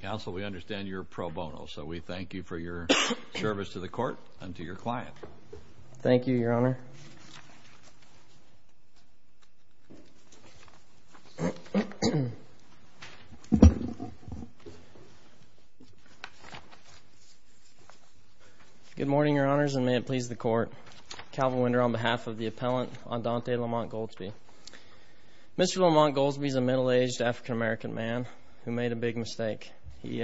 Counsel, we understand you're pro bono, so we thank you for your service to the court and to your client. Thank you, Your Honor. Good morning, Your Honors, and may it please the Court. Calvin Winder on behalf of the appellant, Andante Lamont-Goldsby. Mr. Lamont-Goldsby is a middle-aged African-American man who made a big mistake. He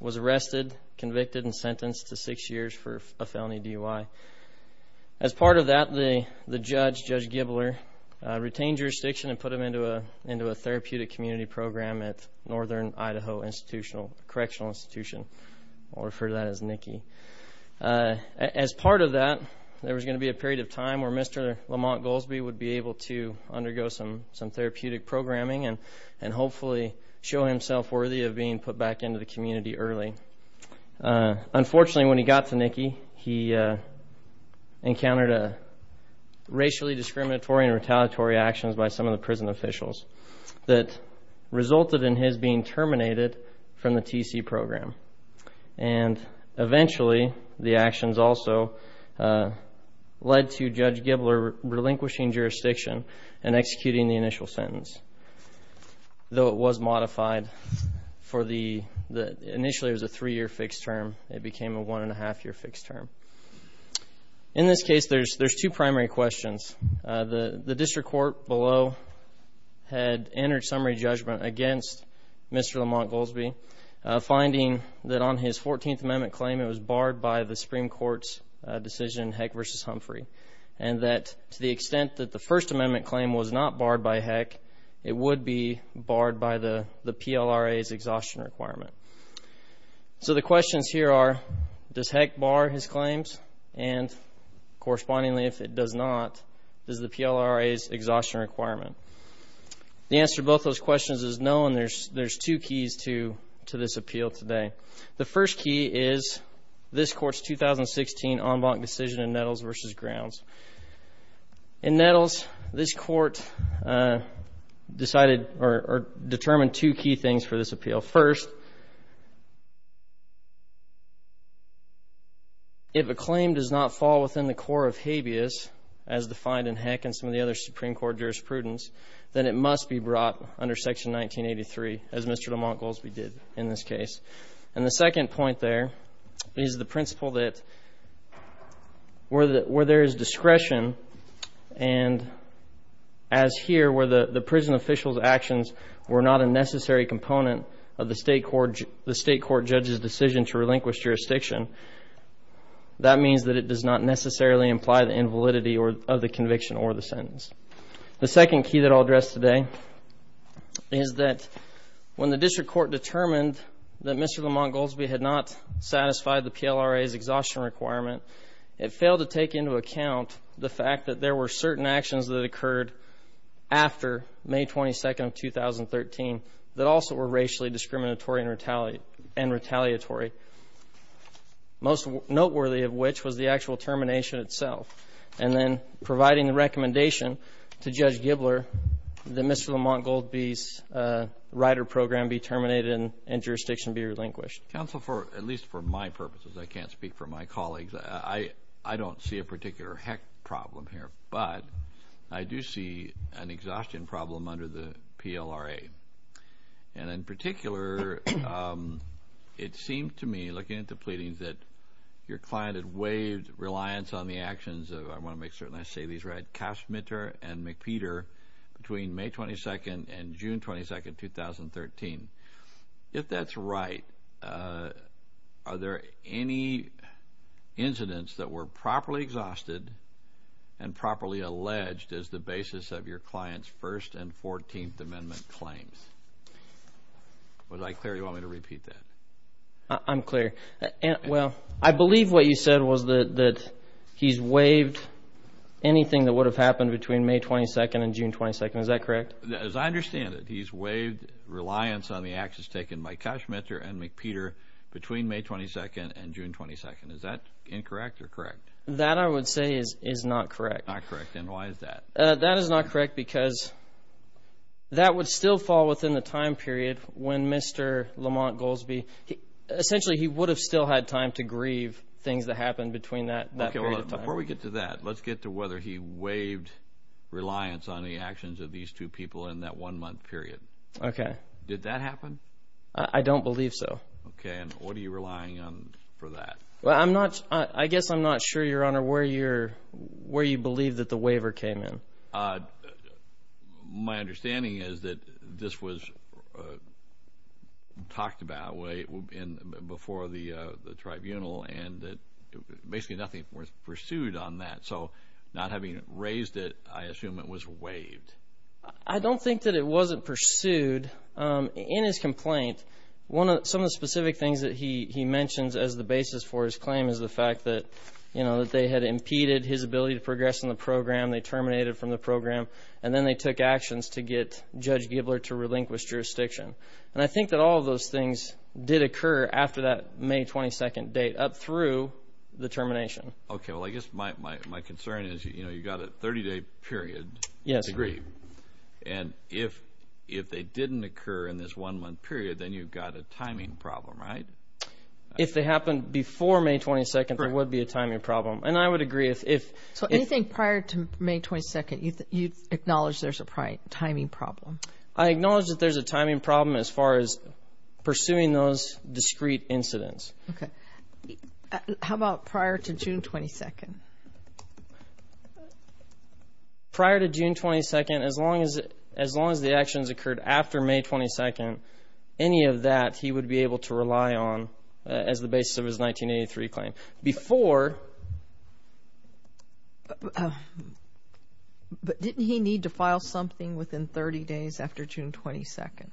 was arrested, convicted, and sentenced to six years for a felony DUI. As part of that, the judge, Judge Gibler, retained jurisdiction and put him into a therapeutic community program at Northern Idaho Institutional Correctional Institution. I'll refer to that as NICI. As part of that, there was going to be a period of time where Mr. Lamont-Goldsby would be able to undergo some therapeutic programming and hopefully show himself worthy of being put back into the community early. Unfortunately, when he got to NICI, he encountered racially discriminatory and retaliatory actions by some of the prison officials that resulted in his being terminated from the TC program. And eventually, the actions also led to Judge Gibler relinquishing jurisdiction and executing the initial sentence. Though it was modified for the, initially it was a three-year fixed term, it became a one-and-a-half-year fixed term. In this case, there's two primary questions. The district court below had entered summary judgment against Mr. Lamont-Goldsby, finding that on his 14th Amendment claim it was barred by the Supreme Court's decision, Heck v. Humphrey, and that to the extent that the First Amendment claim was not barred by Heck, it would be barred by the PLRA's exhaustion requirement. So the questions here are, does Heck bar his claims? And correspondingly, if it does not, does the PLRA's exhaustion requirement? The answer to both those questions is no, and there's two keys to this appeal today. The first key is this Court's 2016 en banc decision in Nettles v. Grounds. In Nettles, this Court decided or determined two key things for this appeal. First, if a claim does not fall within the core of habeas, as defined in Heck and some of the other Supreme Court jurisprudence, then it must be brought under Section 1983, as Mr. Lamont-Goldsby did in this case. And the second point there is the principle that where there is discretion, and as here, where the prison official's actions were not a necessary component of the State Court judge's decision to relinquish jurisdiction, that means that it does not necessarily imply the invalidity of the conviction or the sentence. The second key that I'll address today is that when the District Court determined that Mr. Lamont-Goldsby had not satisfied the PLRA's exhaustion requirement, it failed to take into account the fact that there were certain actions that occurred after May 22nd of 2013 that also were racially discriminatory and retaliatory, most noteworthy of which was the actual termination itself, and then providing the recommendation to Judge Gibler that Mr. Lamont-Goldsby's rider program be terminated and jurisdiction be relinquished. Counsel, at least for my purposes, I can't speak for my colleagues. I don't see a particular heck problem here, but I do see an exhaustion problem under the PLRA. And in particular, it seemed to me, looking at the pleadings, that your client had waived reliance on the actions of, I want to make certain I say these right, Cashmitter and McPeter between May 22nd and June 22nd, 2013. If that's right, are there any incidents that were properly exhausted and properly alleged as the basis of your client's First and Fourteenth Amendment claims? Was I clear? Do you want me to repeat that? I'm clear. Well, I believe what you said was that he's waived anything that would have happened between May 22nd and June 22nd. Is that correct? As I understand it, he's waived reliance on the actions taken by Cashmitter and McPeter between May 22nd and June 22nd. Is that incorrect or correct? That, I would say, is not correct. Not correct. And why is that? That is not correct because that would still fall within the time period when Mr. Lamont-Goldsby, essentially he would have still had time to grieve things that happened between that period of time. Before we get to that, let's get to whether he waived reliance on the actions of these two people in that one month period. Okay. Did that happen? I don't believe so. Okay. And what are you relying on for that? I guess I'm not sure, Your Honor, where you believe that the waiver came in. My understanding is that this was talked about before the tribunal and that basically nothing was pursued on that. So not having raised it, I assume it was waived. I don't think that it wasn't pursued. In his complaint, some of the specific things that he mentions as the basis for his claim is the fact that, you know, that they had impeded his ability to progress in the program, they terminated from the program, and then they took actions to get Judge Gibler to relinquish jurisdiction. And I think that all of those things did occur after that May 22nd date up through the termination. Okay. Well, I guess my concern is, you know, you've got a 30-day period to grieve. Yes. And if they didn't occur in this one-month period, then you've got a timing problem, right? If they happened before May 22nd, there would be a timing problem. And I would agree. So anything prior to May 22nd, you acknowledge there's a timing problem? I acknowledge that there's a timing problem as far as pursuing those discrete incidents. Okay. How about prior to June 22nd? Prior to June 22nd, as long as the actions occurred after May 22nd, any of that he would be able to rely on as the basis of his 1983 claim. Before… But didn't he need to file something within 30 days after June 22nd?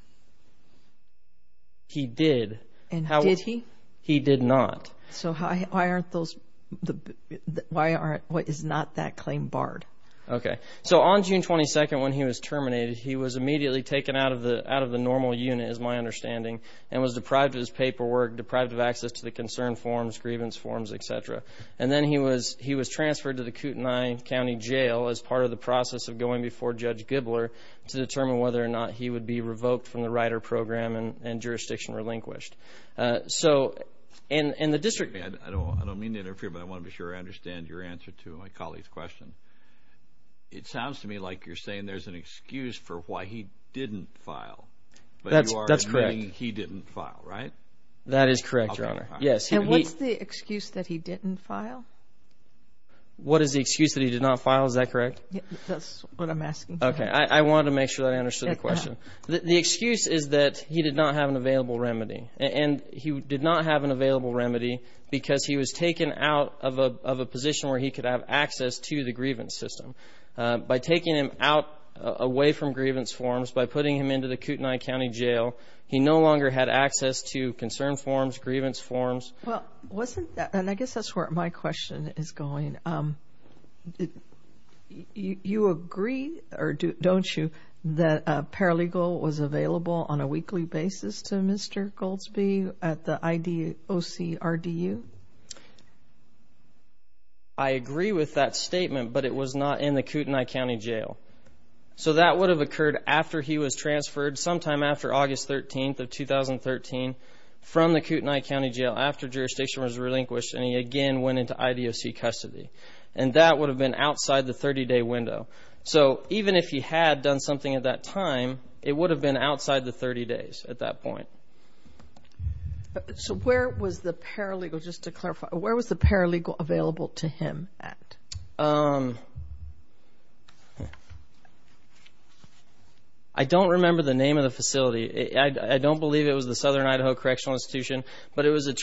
He did. And did he? He did not. So why aren't those—why is not that claim barred? Okay. So on June 22nd, when he was terminated, he was immediately taken out of the normal unit, as my understanding, and was deprived of his paperwork, deprived of access to the concern forms, grievance forms, et cetera. And then he was transferred to the Kootenai County Jail as part of the process of going before Judge Gibler to determine whether or not he would be revoked from the rider program and jurisdiction relinquished. So in the district… I don't mean to interfere, but I want to be sure I understand your answer to my colleague's question. It sounds to me like you're saying there's an excuse for why he didn't file. That's correct. But you are agreeing he didn't file, right? That is correct, Your Honor. Yes. And what's the excuse that he didn't file? What is the excuse that he did not file? Is that correct? That's what I'm asking. Okay. I wanted to make sure that I understood the question. The excuse is that he did not have an available remedy. And he did not have an available remedy because he was taken out of a position where he could have access to the grievance system. By taking him out away from grievance forms, by putting him into the Kootenai County Jail, he no longer had access to concern forms, grievance forms. And I guess that's where my question is going. You agree, or don't you, that paralegal was available on a weekly basis to Mr. Goldsby at the IDOC-RDU? I agree with that statement, but it was not in the Kootenai County Jail. So that would have occurred after he was transferred sometime after August 13th of 2013 from the Kootenai County Jail after jurisdiction was relinquished, and he again went into IDOC custody. And that would have been outside the 30-day window. So even if he had done something at that time, it would have been outside the 30 days at that point. So where was the paralegal, just to clarify, where was the paralegal available to him at? I don't remember the name of the facility. I don't believe it was the Southern Idaho Correctional Institution, but it was a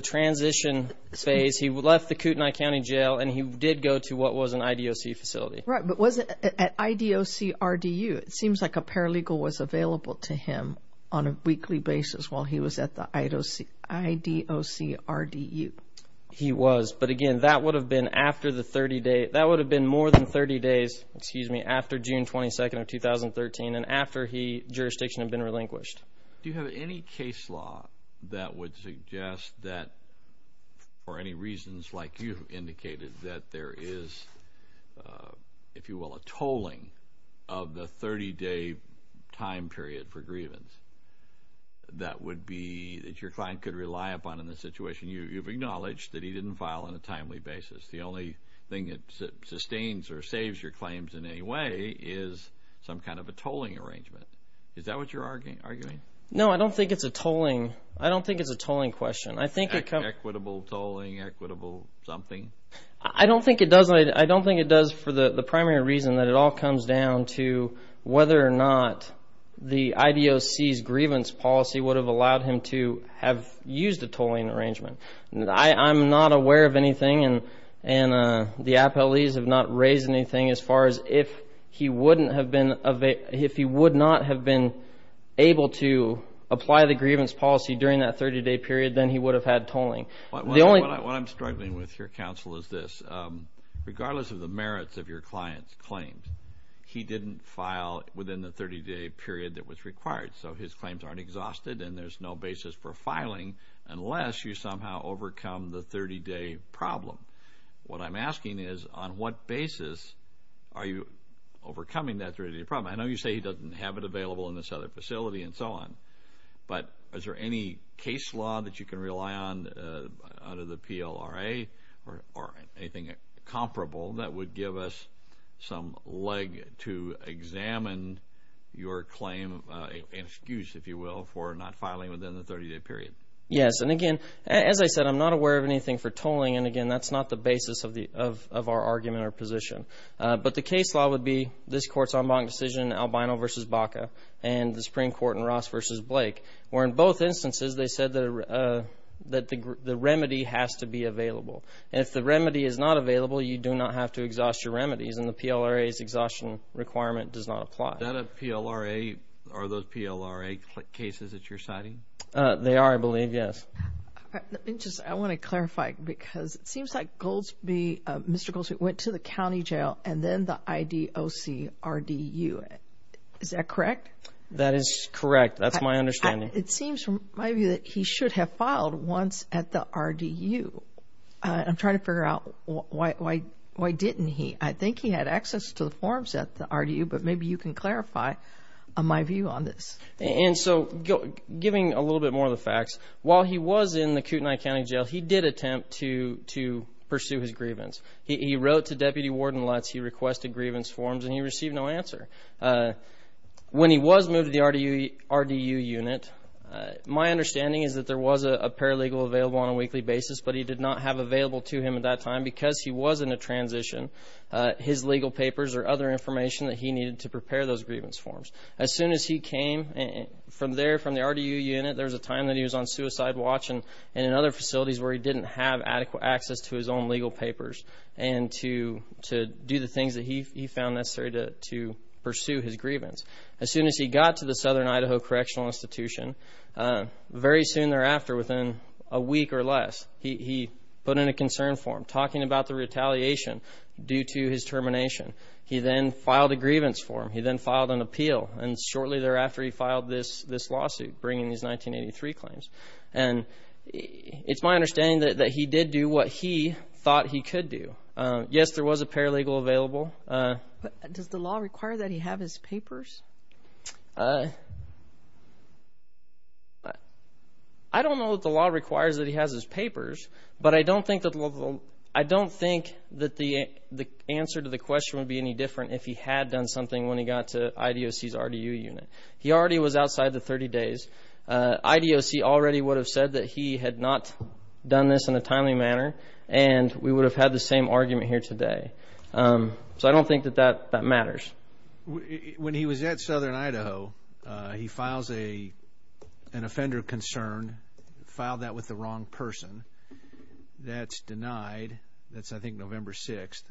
transition phase. He left the Kootenai County Jail, and he did go to what was an IDOC facility. Right, but was it at IDOC-RDU? It seems like a paralegal was available to him on a weekly basis while he was at the IDOC-RDU. He was, but again, that would have been more than 30 days after June 22nd of 2013, and after jurisdiction had been relinquished. Do you have any case law that would suggest that, for any reasons like you indicated, that there is, if you will, a tolling of the 30-day time period for grievance that would be that your client could rely upon in this situation? You've acknowledged that he didn't file on a timely basis. The only thing that sustains or saves your claims in any way is some kind of a tolling arrangement. Is that what you're arguing? No, I don't think it's a tolling. I don't think it's a tolling question. Equitable tolling, equitable something? I don't think it does. I don't think it does for the primary reason that it all comes down to whether or not the IDOC's grievance policy would have allowed him to have used a tolling arrangement. I'm not aware of anything, and the appellees have not raised anything as far as if he would not have been able to apply the grievance policy during that 30-day period, then he would have had tolling. What I'm struggling with here, counsel, is this. Regardless of the merits of your client's claims, he didn't file within the 30-day period that was required. So his claims aren't exhausted and there's no basis for filing unless you somehow overcome the 30-day problem. What I'm asking is on what basis are you overcoming that 30-day problem? I know you say he doesn't have it available in this other facility and so on, but is there any case law that you can rely on under the PLRA or anything comparable that would give us some leg to examine your claim and excuse, if you will, for not filing within the 30-day period? Yes, and again, as I said, I'm not aware of anything for tolling, and again, that's not the basis of our argument or position. But the case law would be this Court's en banc decision, Albino v. Baca, and the Supreme Court in Ross v. Blake, where in both instances they said that the remedy has to be available. And if the remedy is not available, you do not have to exhaust your remedies, and the PLRA's exhaustion requirement does not apply. Are those PLRA cases that you're citing? They are, I believe, yes. I want to clarify because it seems like Mr. Goldsby went to the county jail and then the IDOC RDU. Is that correct? That is correct. That's my understanding. It seems from my view that he should have filed once at the RDU. I'm trying to figure out why didn't he. I think he had access to the forms at the RDU, but maybe you can clarify my view on this. And so giving a little bit more of the facts, while he was in the Kootenai County Jail, he did attempt to pursue his grievance. He wrote to Deputy Warden Lutz, he requested grievance forms, and he received no answer. When he was moved to the RDU unit, my understanding is that there was a paralegal available on a weekly basis, but he did not have available to him at that time because he was in a transition, his legal papers or other information that he needed to prepare those grievance forms. As soon as he came from there, from the RDU unit, there was a time that he was on suicide watch and in other facilities where he didn't have adequate access to his own legal papers and to do the things that he found necessary to pursue his grievance. As soon as he got to the Southern Idaho Correctional Institution, very soon thereafter, within a week or less, he put in a concern form talking about the retaliation due to his termination. He then filed a grievance form. He then filed an appeal, and shortly thereafter he filed this lawsuit bringing his 1983 claims. And it's my understanding that he did do what he thought he could do. Yes, there was a paralegal available. But does the law require that he have his papers? I don't know that the law requires that he has his papers, but I don't think that the answer to the question would be any different if he had done something when he got to IDOC's RDU unit. He already was outside the 30 days. IDOC already would have said that he had not done this in a timely manner, and we would have had the same argument here today. So I don't think that that matters. When he was at Southern Idaho, he files an offender concern, filed that with the wrong person. That's denied. That's, I think, November 6th.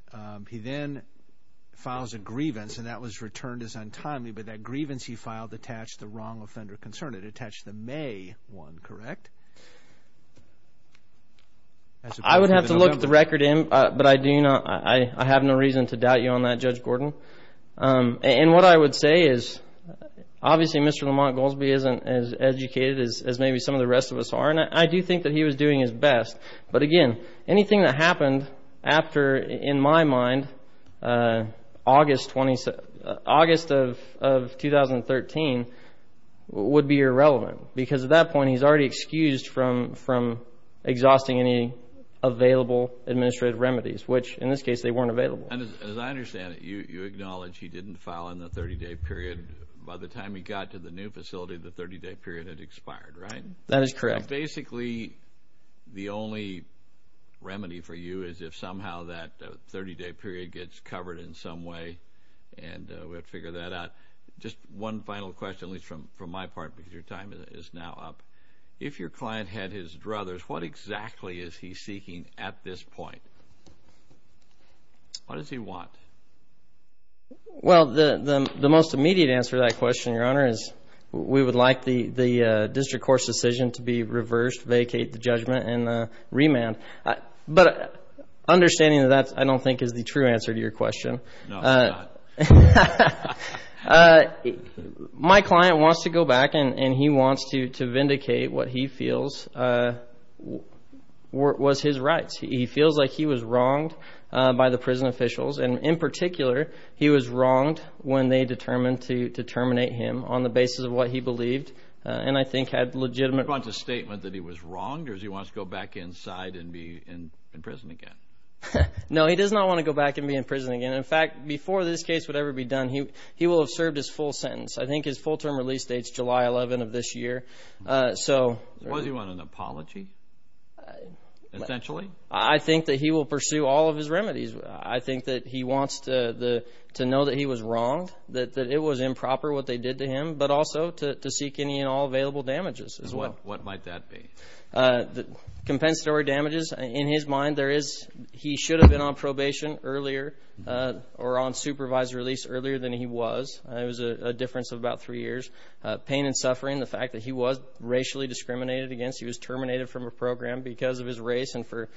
He then files a grievance, and that was returned as untimely, but that grievance he filed attached the wrong offender concern. It attached the May one, correct? I would have to look at the record, but I have no reason to doubt you on that, Judge Gordon. And what I would say is obviously Mr. Lamont Goolsbee isn't as educated as maybe some of the rest of us are, and I do think that he was doing his best. But, again, anything that happened after, in my mind, August of 2013 would be irrelevant because at that point he's already excused from exhausting any available administrative remedies, which in this case they weren't available. And as I understand it, you acknowledge he didn't file in the 30-day period. By the time he got to the new facility, the 30-day period had expired, right? That is correct. Basically, the only remedy for you is if somehow that 30-day period gets covered in some way, and we have to figure that out. Just one final question, at least from my part, because your time is now up. If your client had his druthers, what exactly is he seeking at this point? What does he want? Well, the most immediate answer to that question, Your Honor, is we would like the district court's decision to be reversed, vacate the judgment, and remand. But understanding that that, I don't think, is the true answer to your question. No, it's not. My client wants to go back, and he wants to vindicate what he feels was his rights. He feels like he was wronged by the prison officials, and in particular, he was wronged when they determined to terminate him on the basis of what he believed, and I think had legitimate reasons. He wants a statement that he was wronged, or does he want to go back inside and be in prison again? No, he does not want to go back and be in prison again. In fact, before this case would ever be done, he will have served his full sentence. I think his full-term release dates July 11 of this year. Does he want an apology, essentially? I think that he will pursue all of his remedies. I think that he wants to know that he was wronged, that it was improper what they did to him, but also to seek any and all available damages. What might that be? Compensatory damages. In his mind, he should have been on probation earlier or on supervised release earlier than he was. It was a difference of about three years. Pain and suffering, the fact that he was racially discriminated against, he was terminated from a program because of his race and for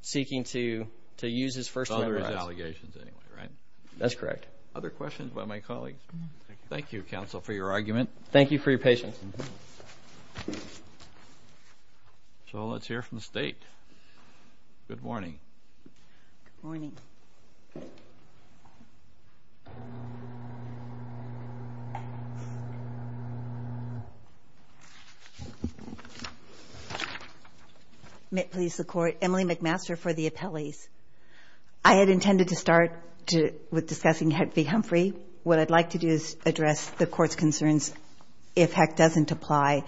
seeking to use his first member. It's all of his allegations anyway, right? That's correct. Other questions by my colleagues? Thank you, counsel, for your argument. Thank you for your patience. So let's hear from the State. Good morning. Good morning. Please, the Court. Emily McMaster for the appellees. I had intended to start with discussing Heck v. Humphrey. What I'd like to do is address the Court's concerns. If Heck doesn't apply,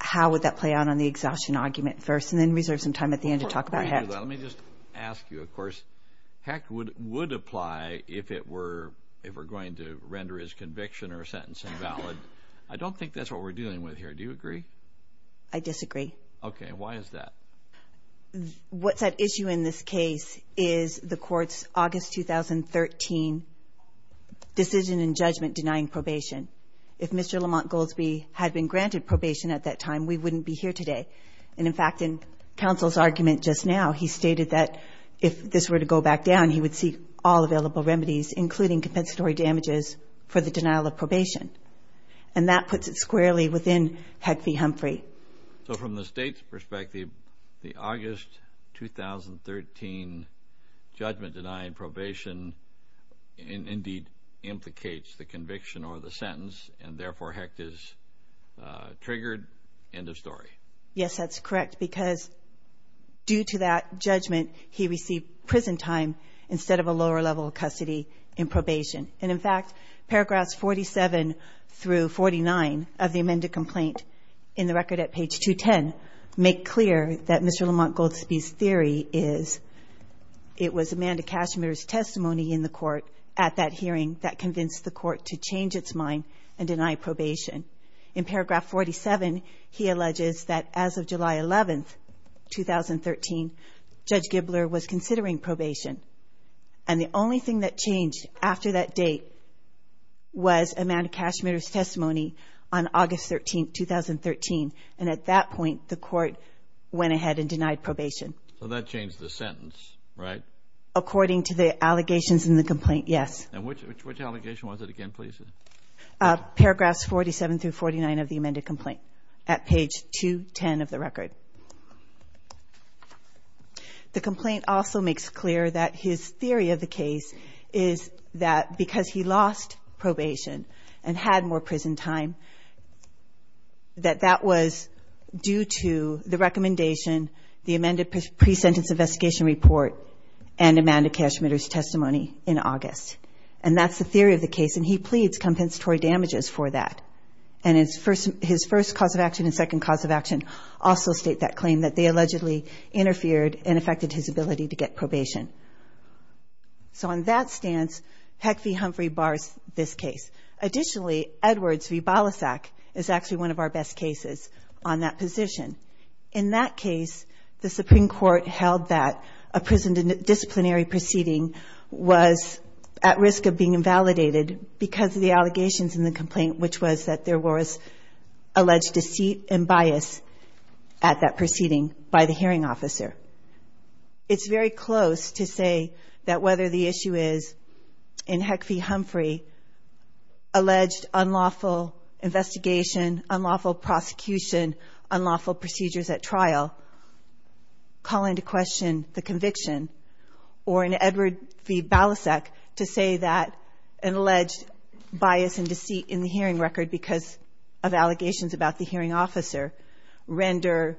how would that play out on the exhaustion argument first and then reserve some time at the end to talk about Heck? Let me just ask you, of course. Heck would apply if it were going to render his conviction or sentence invalid. I don't think that's what we're dealing with here. Do you agree? I disagree. Okay. Why is that? What's at issue in this case is the Court's August 2013 decision in judgment denying probation. If Mr. Lamont Goldsby had been granted probation at that time, we wouldn't be here today. And, in fact, in counsel's argument just now, he stated that if this were to go back down, he would seek all available remedies, including compensatory damages, for the denial of probation. And that puts it squarely within Heck v. Humphrey. So from the State's perspective, the August 2013 judgment denying probation indeed implicates the conviction or the sentence, and, therefore, Heck is triggered. End of story. Yes, that's correct, because due to that judgment, he received prison time instead of a lower level of custody in probation. And, in fact, paragraphs 47 through 49 of the amended complaint in the record at page 210 make clear that Mr. Lamont Goldsby's theory is it was Amanda Cashmere's testimony in the court at that hearing that convinced the Court to change its mind and deny probation. In paragraph 47, he alleges that as of July 11, 2013, Judge Gibler was considering probation. And the only thing that changed after that date was Amanda Cashmere's testimony on August 13, 2013. And at that point, the Court went ahead and denied probation. So that changed the sentence, right? According to the allegations in the complaint, yes. And which allegation was it again, please? Paragraphs 47 through 49 of the amended complaint at page 210 of the record. The complaint also makes clear that his theory of the case is that because he lost probation and had more prison time, that that was due to the recommendation, the amended pre-sentence investigation report, and Amanda Cashmere's testimony in August. And that's the theory of the case, and he pleads compensatory damages for that. And his first cause of action and second cause of action also state that claim, that they allegedly interfered and affected his ability to get probation. So on that stance, Peck v. Humphrey bars this case. Additionally, Edwards v. Balasag is actually one of our best cases on that position. In that case, the Supreme Court held that a prison disciplinary proceeding was at risk of being invalidated because of the allegations in the complaint, which was that there was alleged deceit and bias at that proceeding by the hearing officer. It's very close to say that whether the issue is in Heck v. Humphrey, alleged unlawful investigation, unlawful prosecution, unlawful procedures at trial, call into question the conviction, or in Edwards v. Balasag to say that an alleged bias and deceit in the hearing record because of allegations about the hearing officer render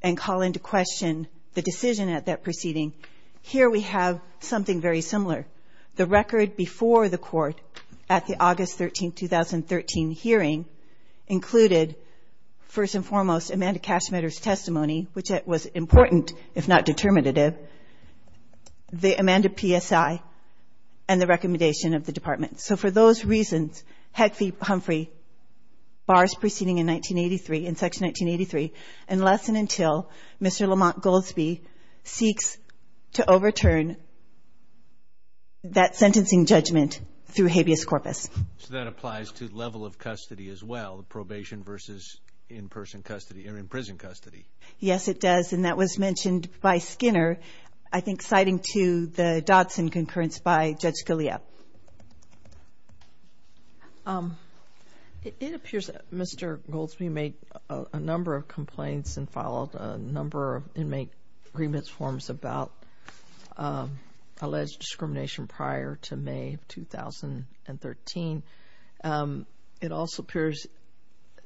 and call into question the decision at that proceeding. Here we have something very similar. The record before the court at the August 13, 2013 hearing included, first and foremost, Amanda Cashmetter's testimony, which was important, if not determinative, the Amanda PSI, and the recommendation of the Department. So for those reasons, Heck v. Humphrey bars proceeding in Section 1983 unless and until Mr. Lamont Goldsby seeks to overturn that sentencing judgment through habeas corpus. So that applies to level of custody as well, probation versus in-person custody or in prison custody. Yes, it does. And that was mentioned by Skinner, I think citing to the Dodson concurrence by Judge Scalia. It appears that Mr. Goldsby made a number of complaints and filed a number of inmate agreements forms about alleged discrimination prior to May of 2013. It also appears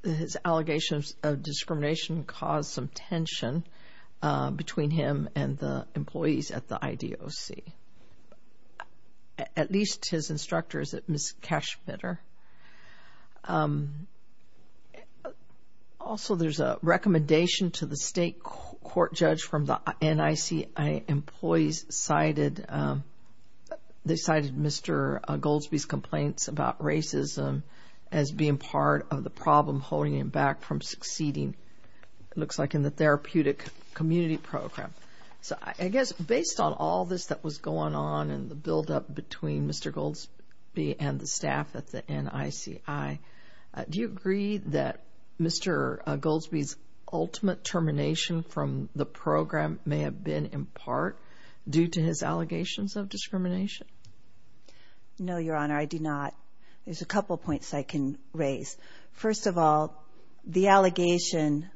that his allegations of discrimination caused some tension between him and the employees at the IDOC, at least his instructors at Ms. Cashmetter. Also, there's a recommendation to the state court judge from the NIC employees They cited Mr. Goldsby's complaints about racism as being part of the problem holding him back from succeeding, it looks like, in the therapeutic community program. So I guess based on all this that was going on and the buildup between Mr. Goldsby and the staff at the NICI, do you agree that Mr. Goldsby's ultimate termination from the program may have been in part due to his allegations of discrimination? No, Your Honor, I do not. There's a couple points I can raise. First of all, the allegation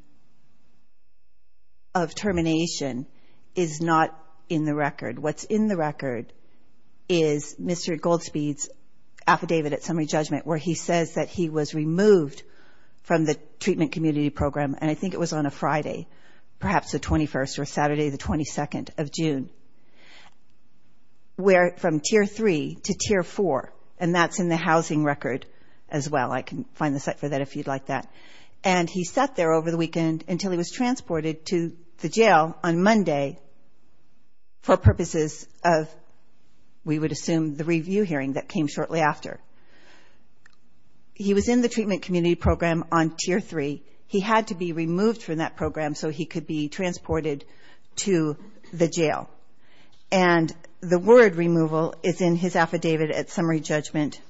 of termination is not in the record. What's in the record is Mr. Goldsby's affidavit at summary judgment where he says that he was removed from the treatment community program, and I think it was on a Friday, perhaps the 21st or Saturday, the 22nd of June, from Tier 3 to Tier 4, and that's in the housing record as well. I can find the site for that if you'd like that. And he sat there over the weekend until he was transported to the jail on Monday for purposes of, we would assume, the review hearing that came shortly after. He was in the treatment community program on Tier 3. He had to be removed from that program so he could be transported to the jail. And the word removal is in his affidavit at summary judgment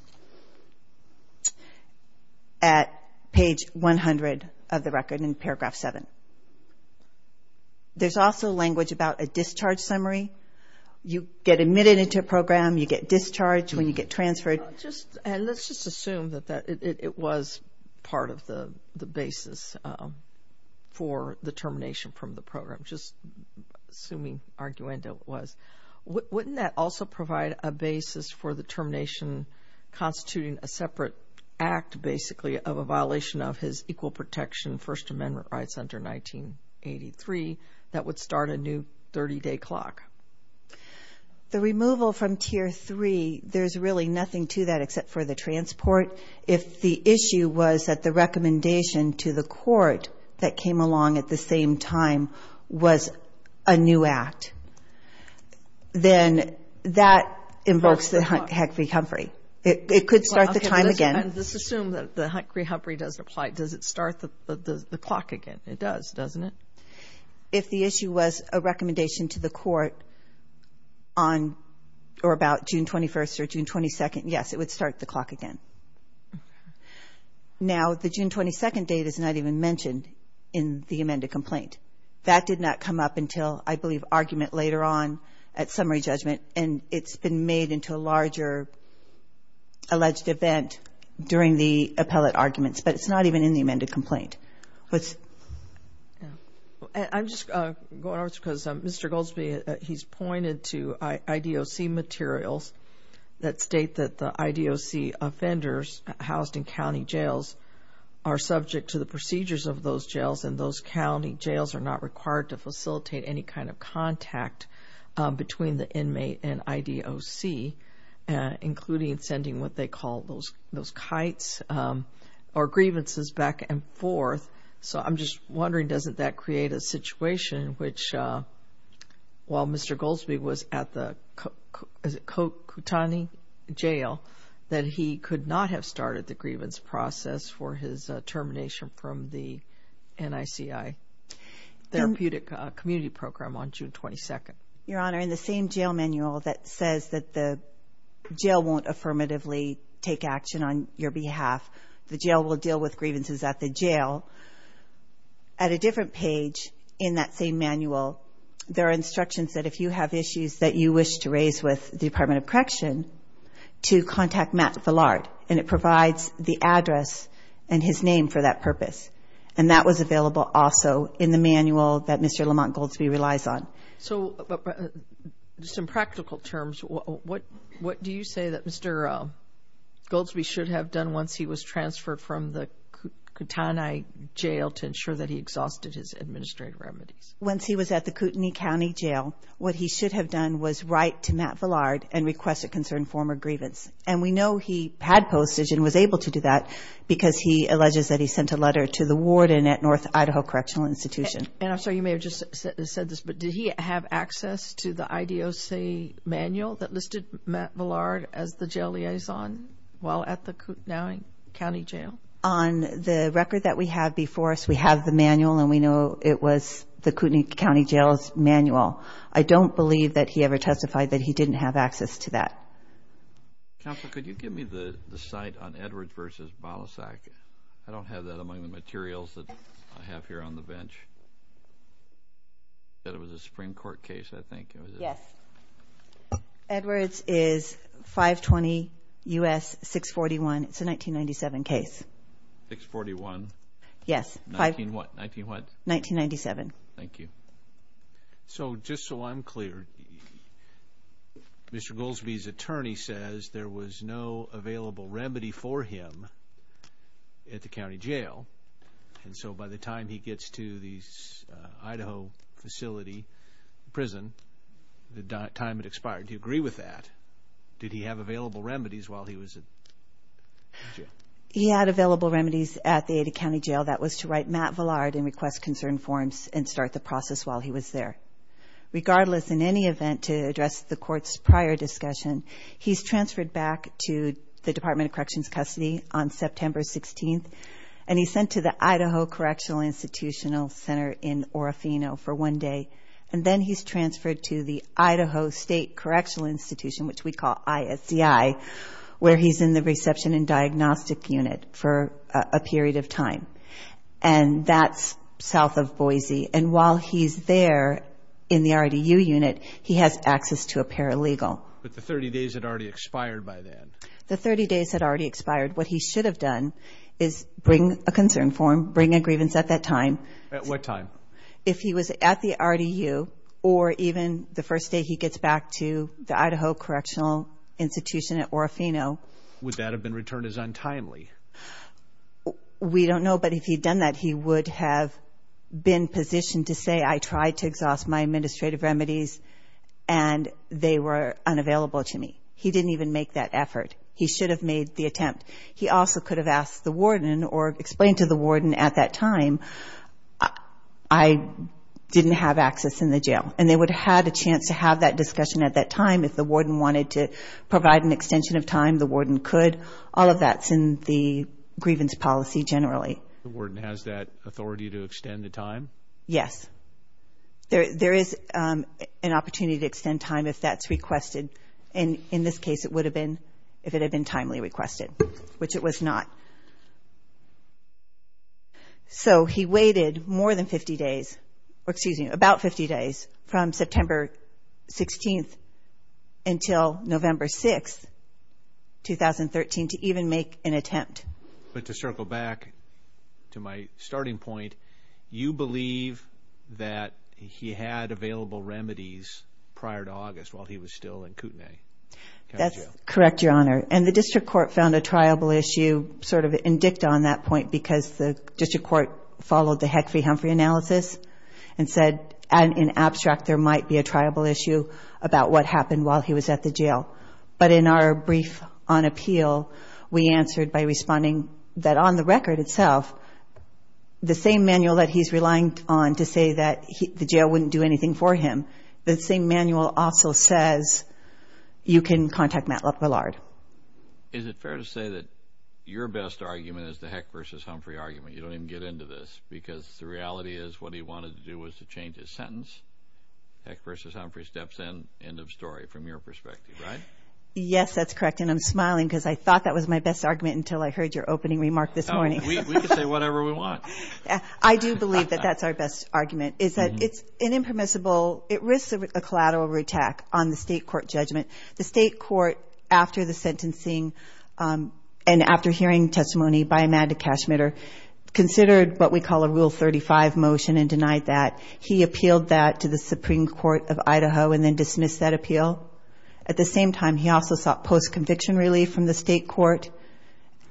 at page 100 of the record in paragraph 7. There's also language about a discharge summary. You get admitted into a program, you get discharged when you get transferred. And let's just assume that it was part of the basis for the termination from the program, just assuming arguendo it was. Wouldn't that also provide a basis for the termination constituting a separate act, basically, of a violation of his Equal Protection First Amendment rights under 1983 that would start a new 30-day clock? The removal from Tier 3, there's really nothing to that except for the transport. If the issue was that the recommendation to the court that came along at the same time was a new act, then that invokes the Huckabee Humphrey. It could start the time again. Let's assume that the Huckabee Humphrey does apply. Does it start the clock again? It does, doesn't it? If the issue was a recommendation to the court on or about June 21st or June 22nd, yes, it would start the clock again. Now, the June 22nd date is not even mentioned in the amended complaint. That did not come up until, I believe, argument later on at summary judgment, and it's been made into a larger alleged event during the appellate arguments, but it's not even in the amended complaint. I'm just going over this because Mr. Goldsby, he's pointed to IDOC materials that state that the IDOC offenders housed in county jails are subject to the procedures of those jails, and those county jails are not required to facilitate any kind of contact between the inmate and IDOC, including sending what they call those kites or grievances back and forth. So I'm just wondering, doesn't that create a situation which, while Mr. Goldsby was at the Kotani Jail, that he could not have started the grievance process for his termination from the NICI therapeutic community program on June 22nd? Your Honor, in the same jail manual that says that the jail won't affirmatively take action on your behalf, the jail will deal with grievances at the jail, at a different page in that same manual, there are instructions that if you have issues that you wish to raise with the Department of Correction to contact Matt Villard, and it provides the address and his name for that purpose, and that was available also in the manual that Mr. Lamont Goldsby relies on. So just in practical terms, what do you say that Mr. Goldsby should have done once he was transferred from the Kotani Jail to ensure that he exhausted his administrative remedies? Once he was at the Kootenai County Jail, what he should have done was write to Matt Villard and request a concerned form of grievance, and we know he had postage and was able to do that because he alleges that he sent a letter to the warden at North Idaho Correctional Institution. And I'm sorry, you may have just said this, but did he have access to the IDOC manual that listed Matt Villard as the jail liaison while at the Kootenai County Jail? On the record that we have before us, we have the manual, and we know it was the Kootenai County Jail's manual. I don't believe that he ever testified that he didn't have access to that. Counsel, could you give me the site on Edwards v. Balasag? I don't have that among the materials that I have here on the bench. You said it was a Supreme Court case, I think. Yes. Edwards is 520 U.S. 641. It's a 1997 case. 641? Yes. 19 what? 1997. Thank you. So just so I'm clear, Mr. Goldsby's attorney says there was no available remedy for him at the county jail, and so by the time he gets to the Idaho facility prison, the time had expired. Do you agree with that? Did he have available remedies while he was in jail? He had available remedies at the Idaho County Jail. That was to write Matt Vallard and request concern forms and start the process while he was there. Regardless, in any event, to address the Court's prior discussion, he's transferred back to the Department of Corrections custody on September 16th, and he's sent to the Idaho Correctional Institutional Center in Orofino for one day, and then he's transferred to the Idaho State Correctional Institution, which we call ISDI, where he's in the reception and diagnostic unit for a period of time, and that's south of Boise. And while he's there in the RDU unit, he has access to a paralegal. But the 30 days had already expired by then. The 30 days had already expired. What he should have done is bring a concern form, bring a grievance at that time. At what time? If he was at the RDU or even the first day he gets back to the Idaho Correctional Institution at Orofino. Would that have been returned as untimely? We don't know, but if he'd done that, he would have been positioned to say, I tried to exhaust my administrative remedies, and they were unavailable to me. He didn't even make that effort. He should have made the attempt. He also could have asked the warden or explained to the warden at that time, I didn't have access in the jail, and they would have had a chance to have that discussion at that time. If the warden wanted to provide an extension of time, the warden could. All of that's in the grievance policy generally. The warden has that authority to extend the time? Yes. There is an opportunity to extend time if that's requested, and in this case, it would have been if it had been timely requested, which it was not. So he waited more than 50 days, or excuse me, about 50 days, from September 16th until November 6th, 2013, to even make an attempt. But to circle back to my starting point, you believe that he had available remedies prior to August while he was still in Kootenai County Jail? That's correct, Your Honor. And the district court found a triable issue sort of indict on that point because the district court followed the Heckfrey-Humphrey analysis and said, in abstract, there might be a triable issue about what happened while he was at the jail. But in our brief on appeal, we answered by responding that on the record itself, the same manual that he's relying on to say that the jail wouldn't do anything for him, the same manual also says you can contact Matt LaPillard. Is it fair to say that your best argument is the Heckfrey-Humphrey argument? You don't even get into this because the reality is what he wanted to do was to change his sentence. Heckfrey-Humphrey steps in, end of story, from your perspective, right? Yes, that's correct, and I'm smiling because I thought that was my best argument until I heard your opening remark this morning. We can say whatever we want. I do believe that that's our best argument is that it's an impermissible, it risks a collateral attack on the state court judgment. The state court, after the sentencing and after hearing testimony by Amanda Cashmitter, considered what we call a Rule 35 motion and denied that. He appealed that to the Supreme Court of Idaho and then dismissed that appeal. At the same time, he also sought post-conviction relief from the state court,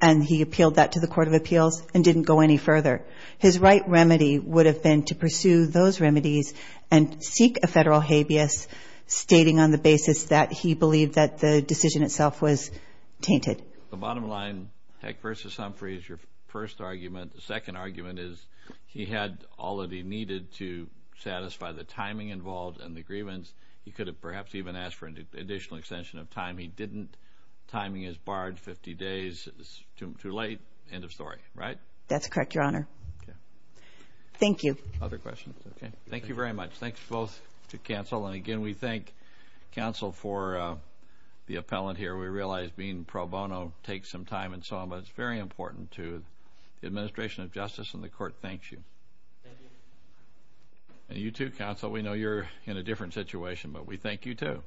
and he appealed that to the Court of Appeals and didn't go any further. His right remedy would have been to pursue those remedies and seek a federal habeas stating on the basis that he believed that the decision itself was tainted. The bottom line, Heckfrey-Humphrey is your first argument. The second argument is he had all that he needed to satisfy the timing involved and the grievance. He could have perhaps even asked for an additional extension of time. He didn't. Timing is barred 50 days. It's too late. End of story. Right? That's correct, Your Honor. Okay. Thank you. Other questions? Okay. Thank you very much. Thanks both to counsel. And again, we thank counsel for the appellant here. We realize being pro bono takes some time and so on, but it's very important to the administration of justice and the court thanks you. Thank you. And you too, counsel. We know you're in a different situation, but we thank you too.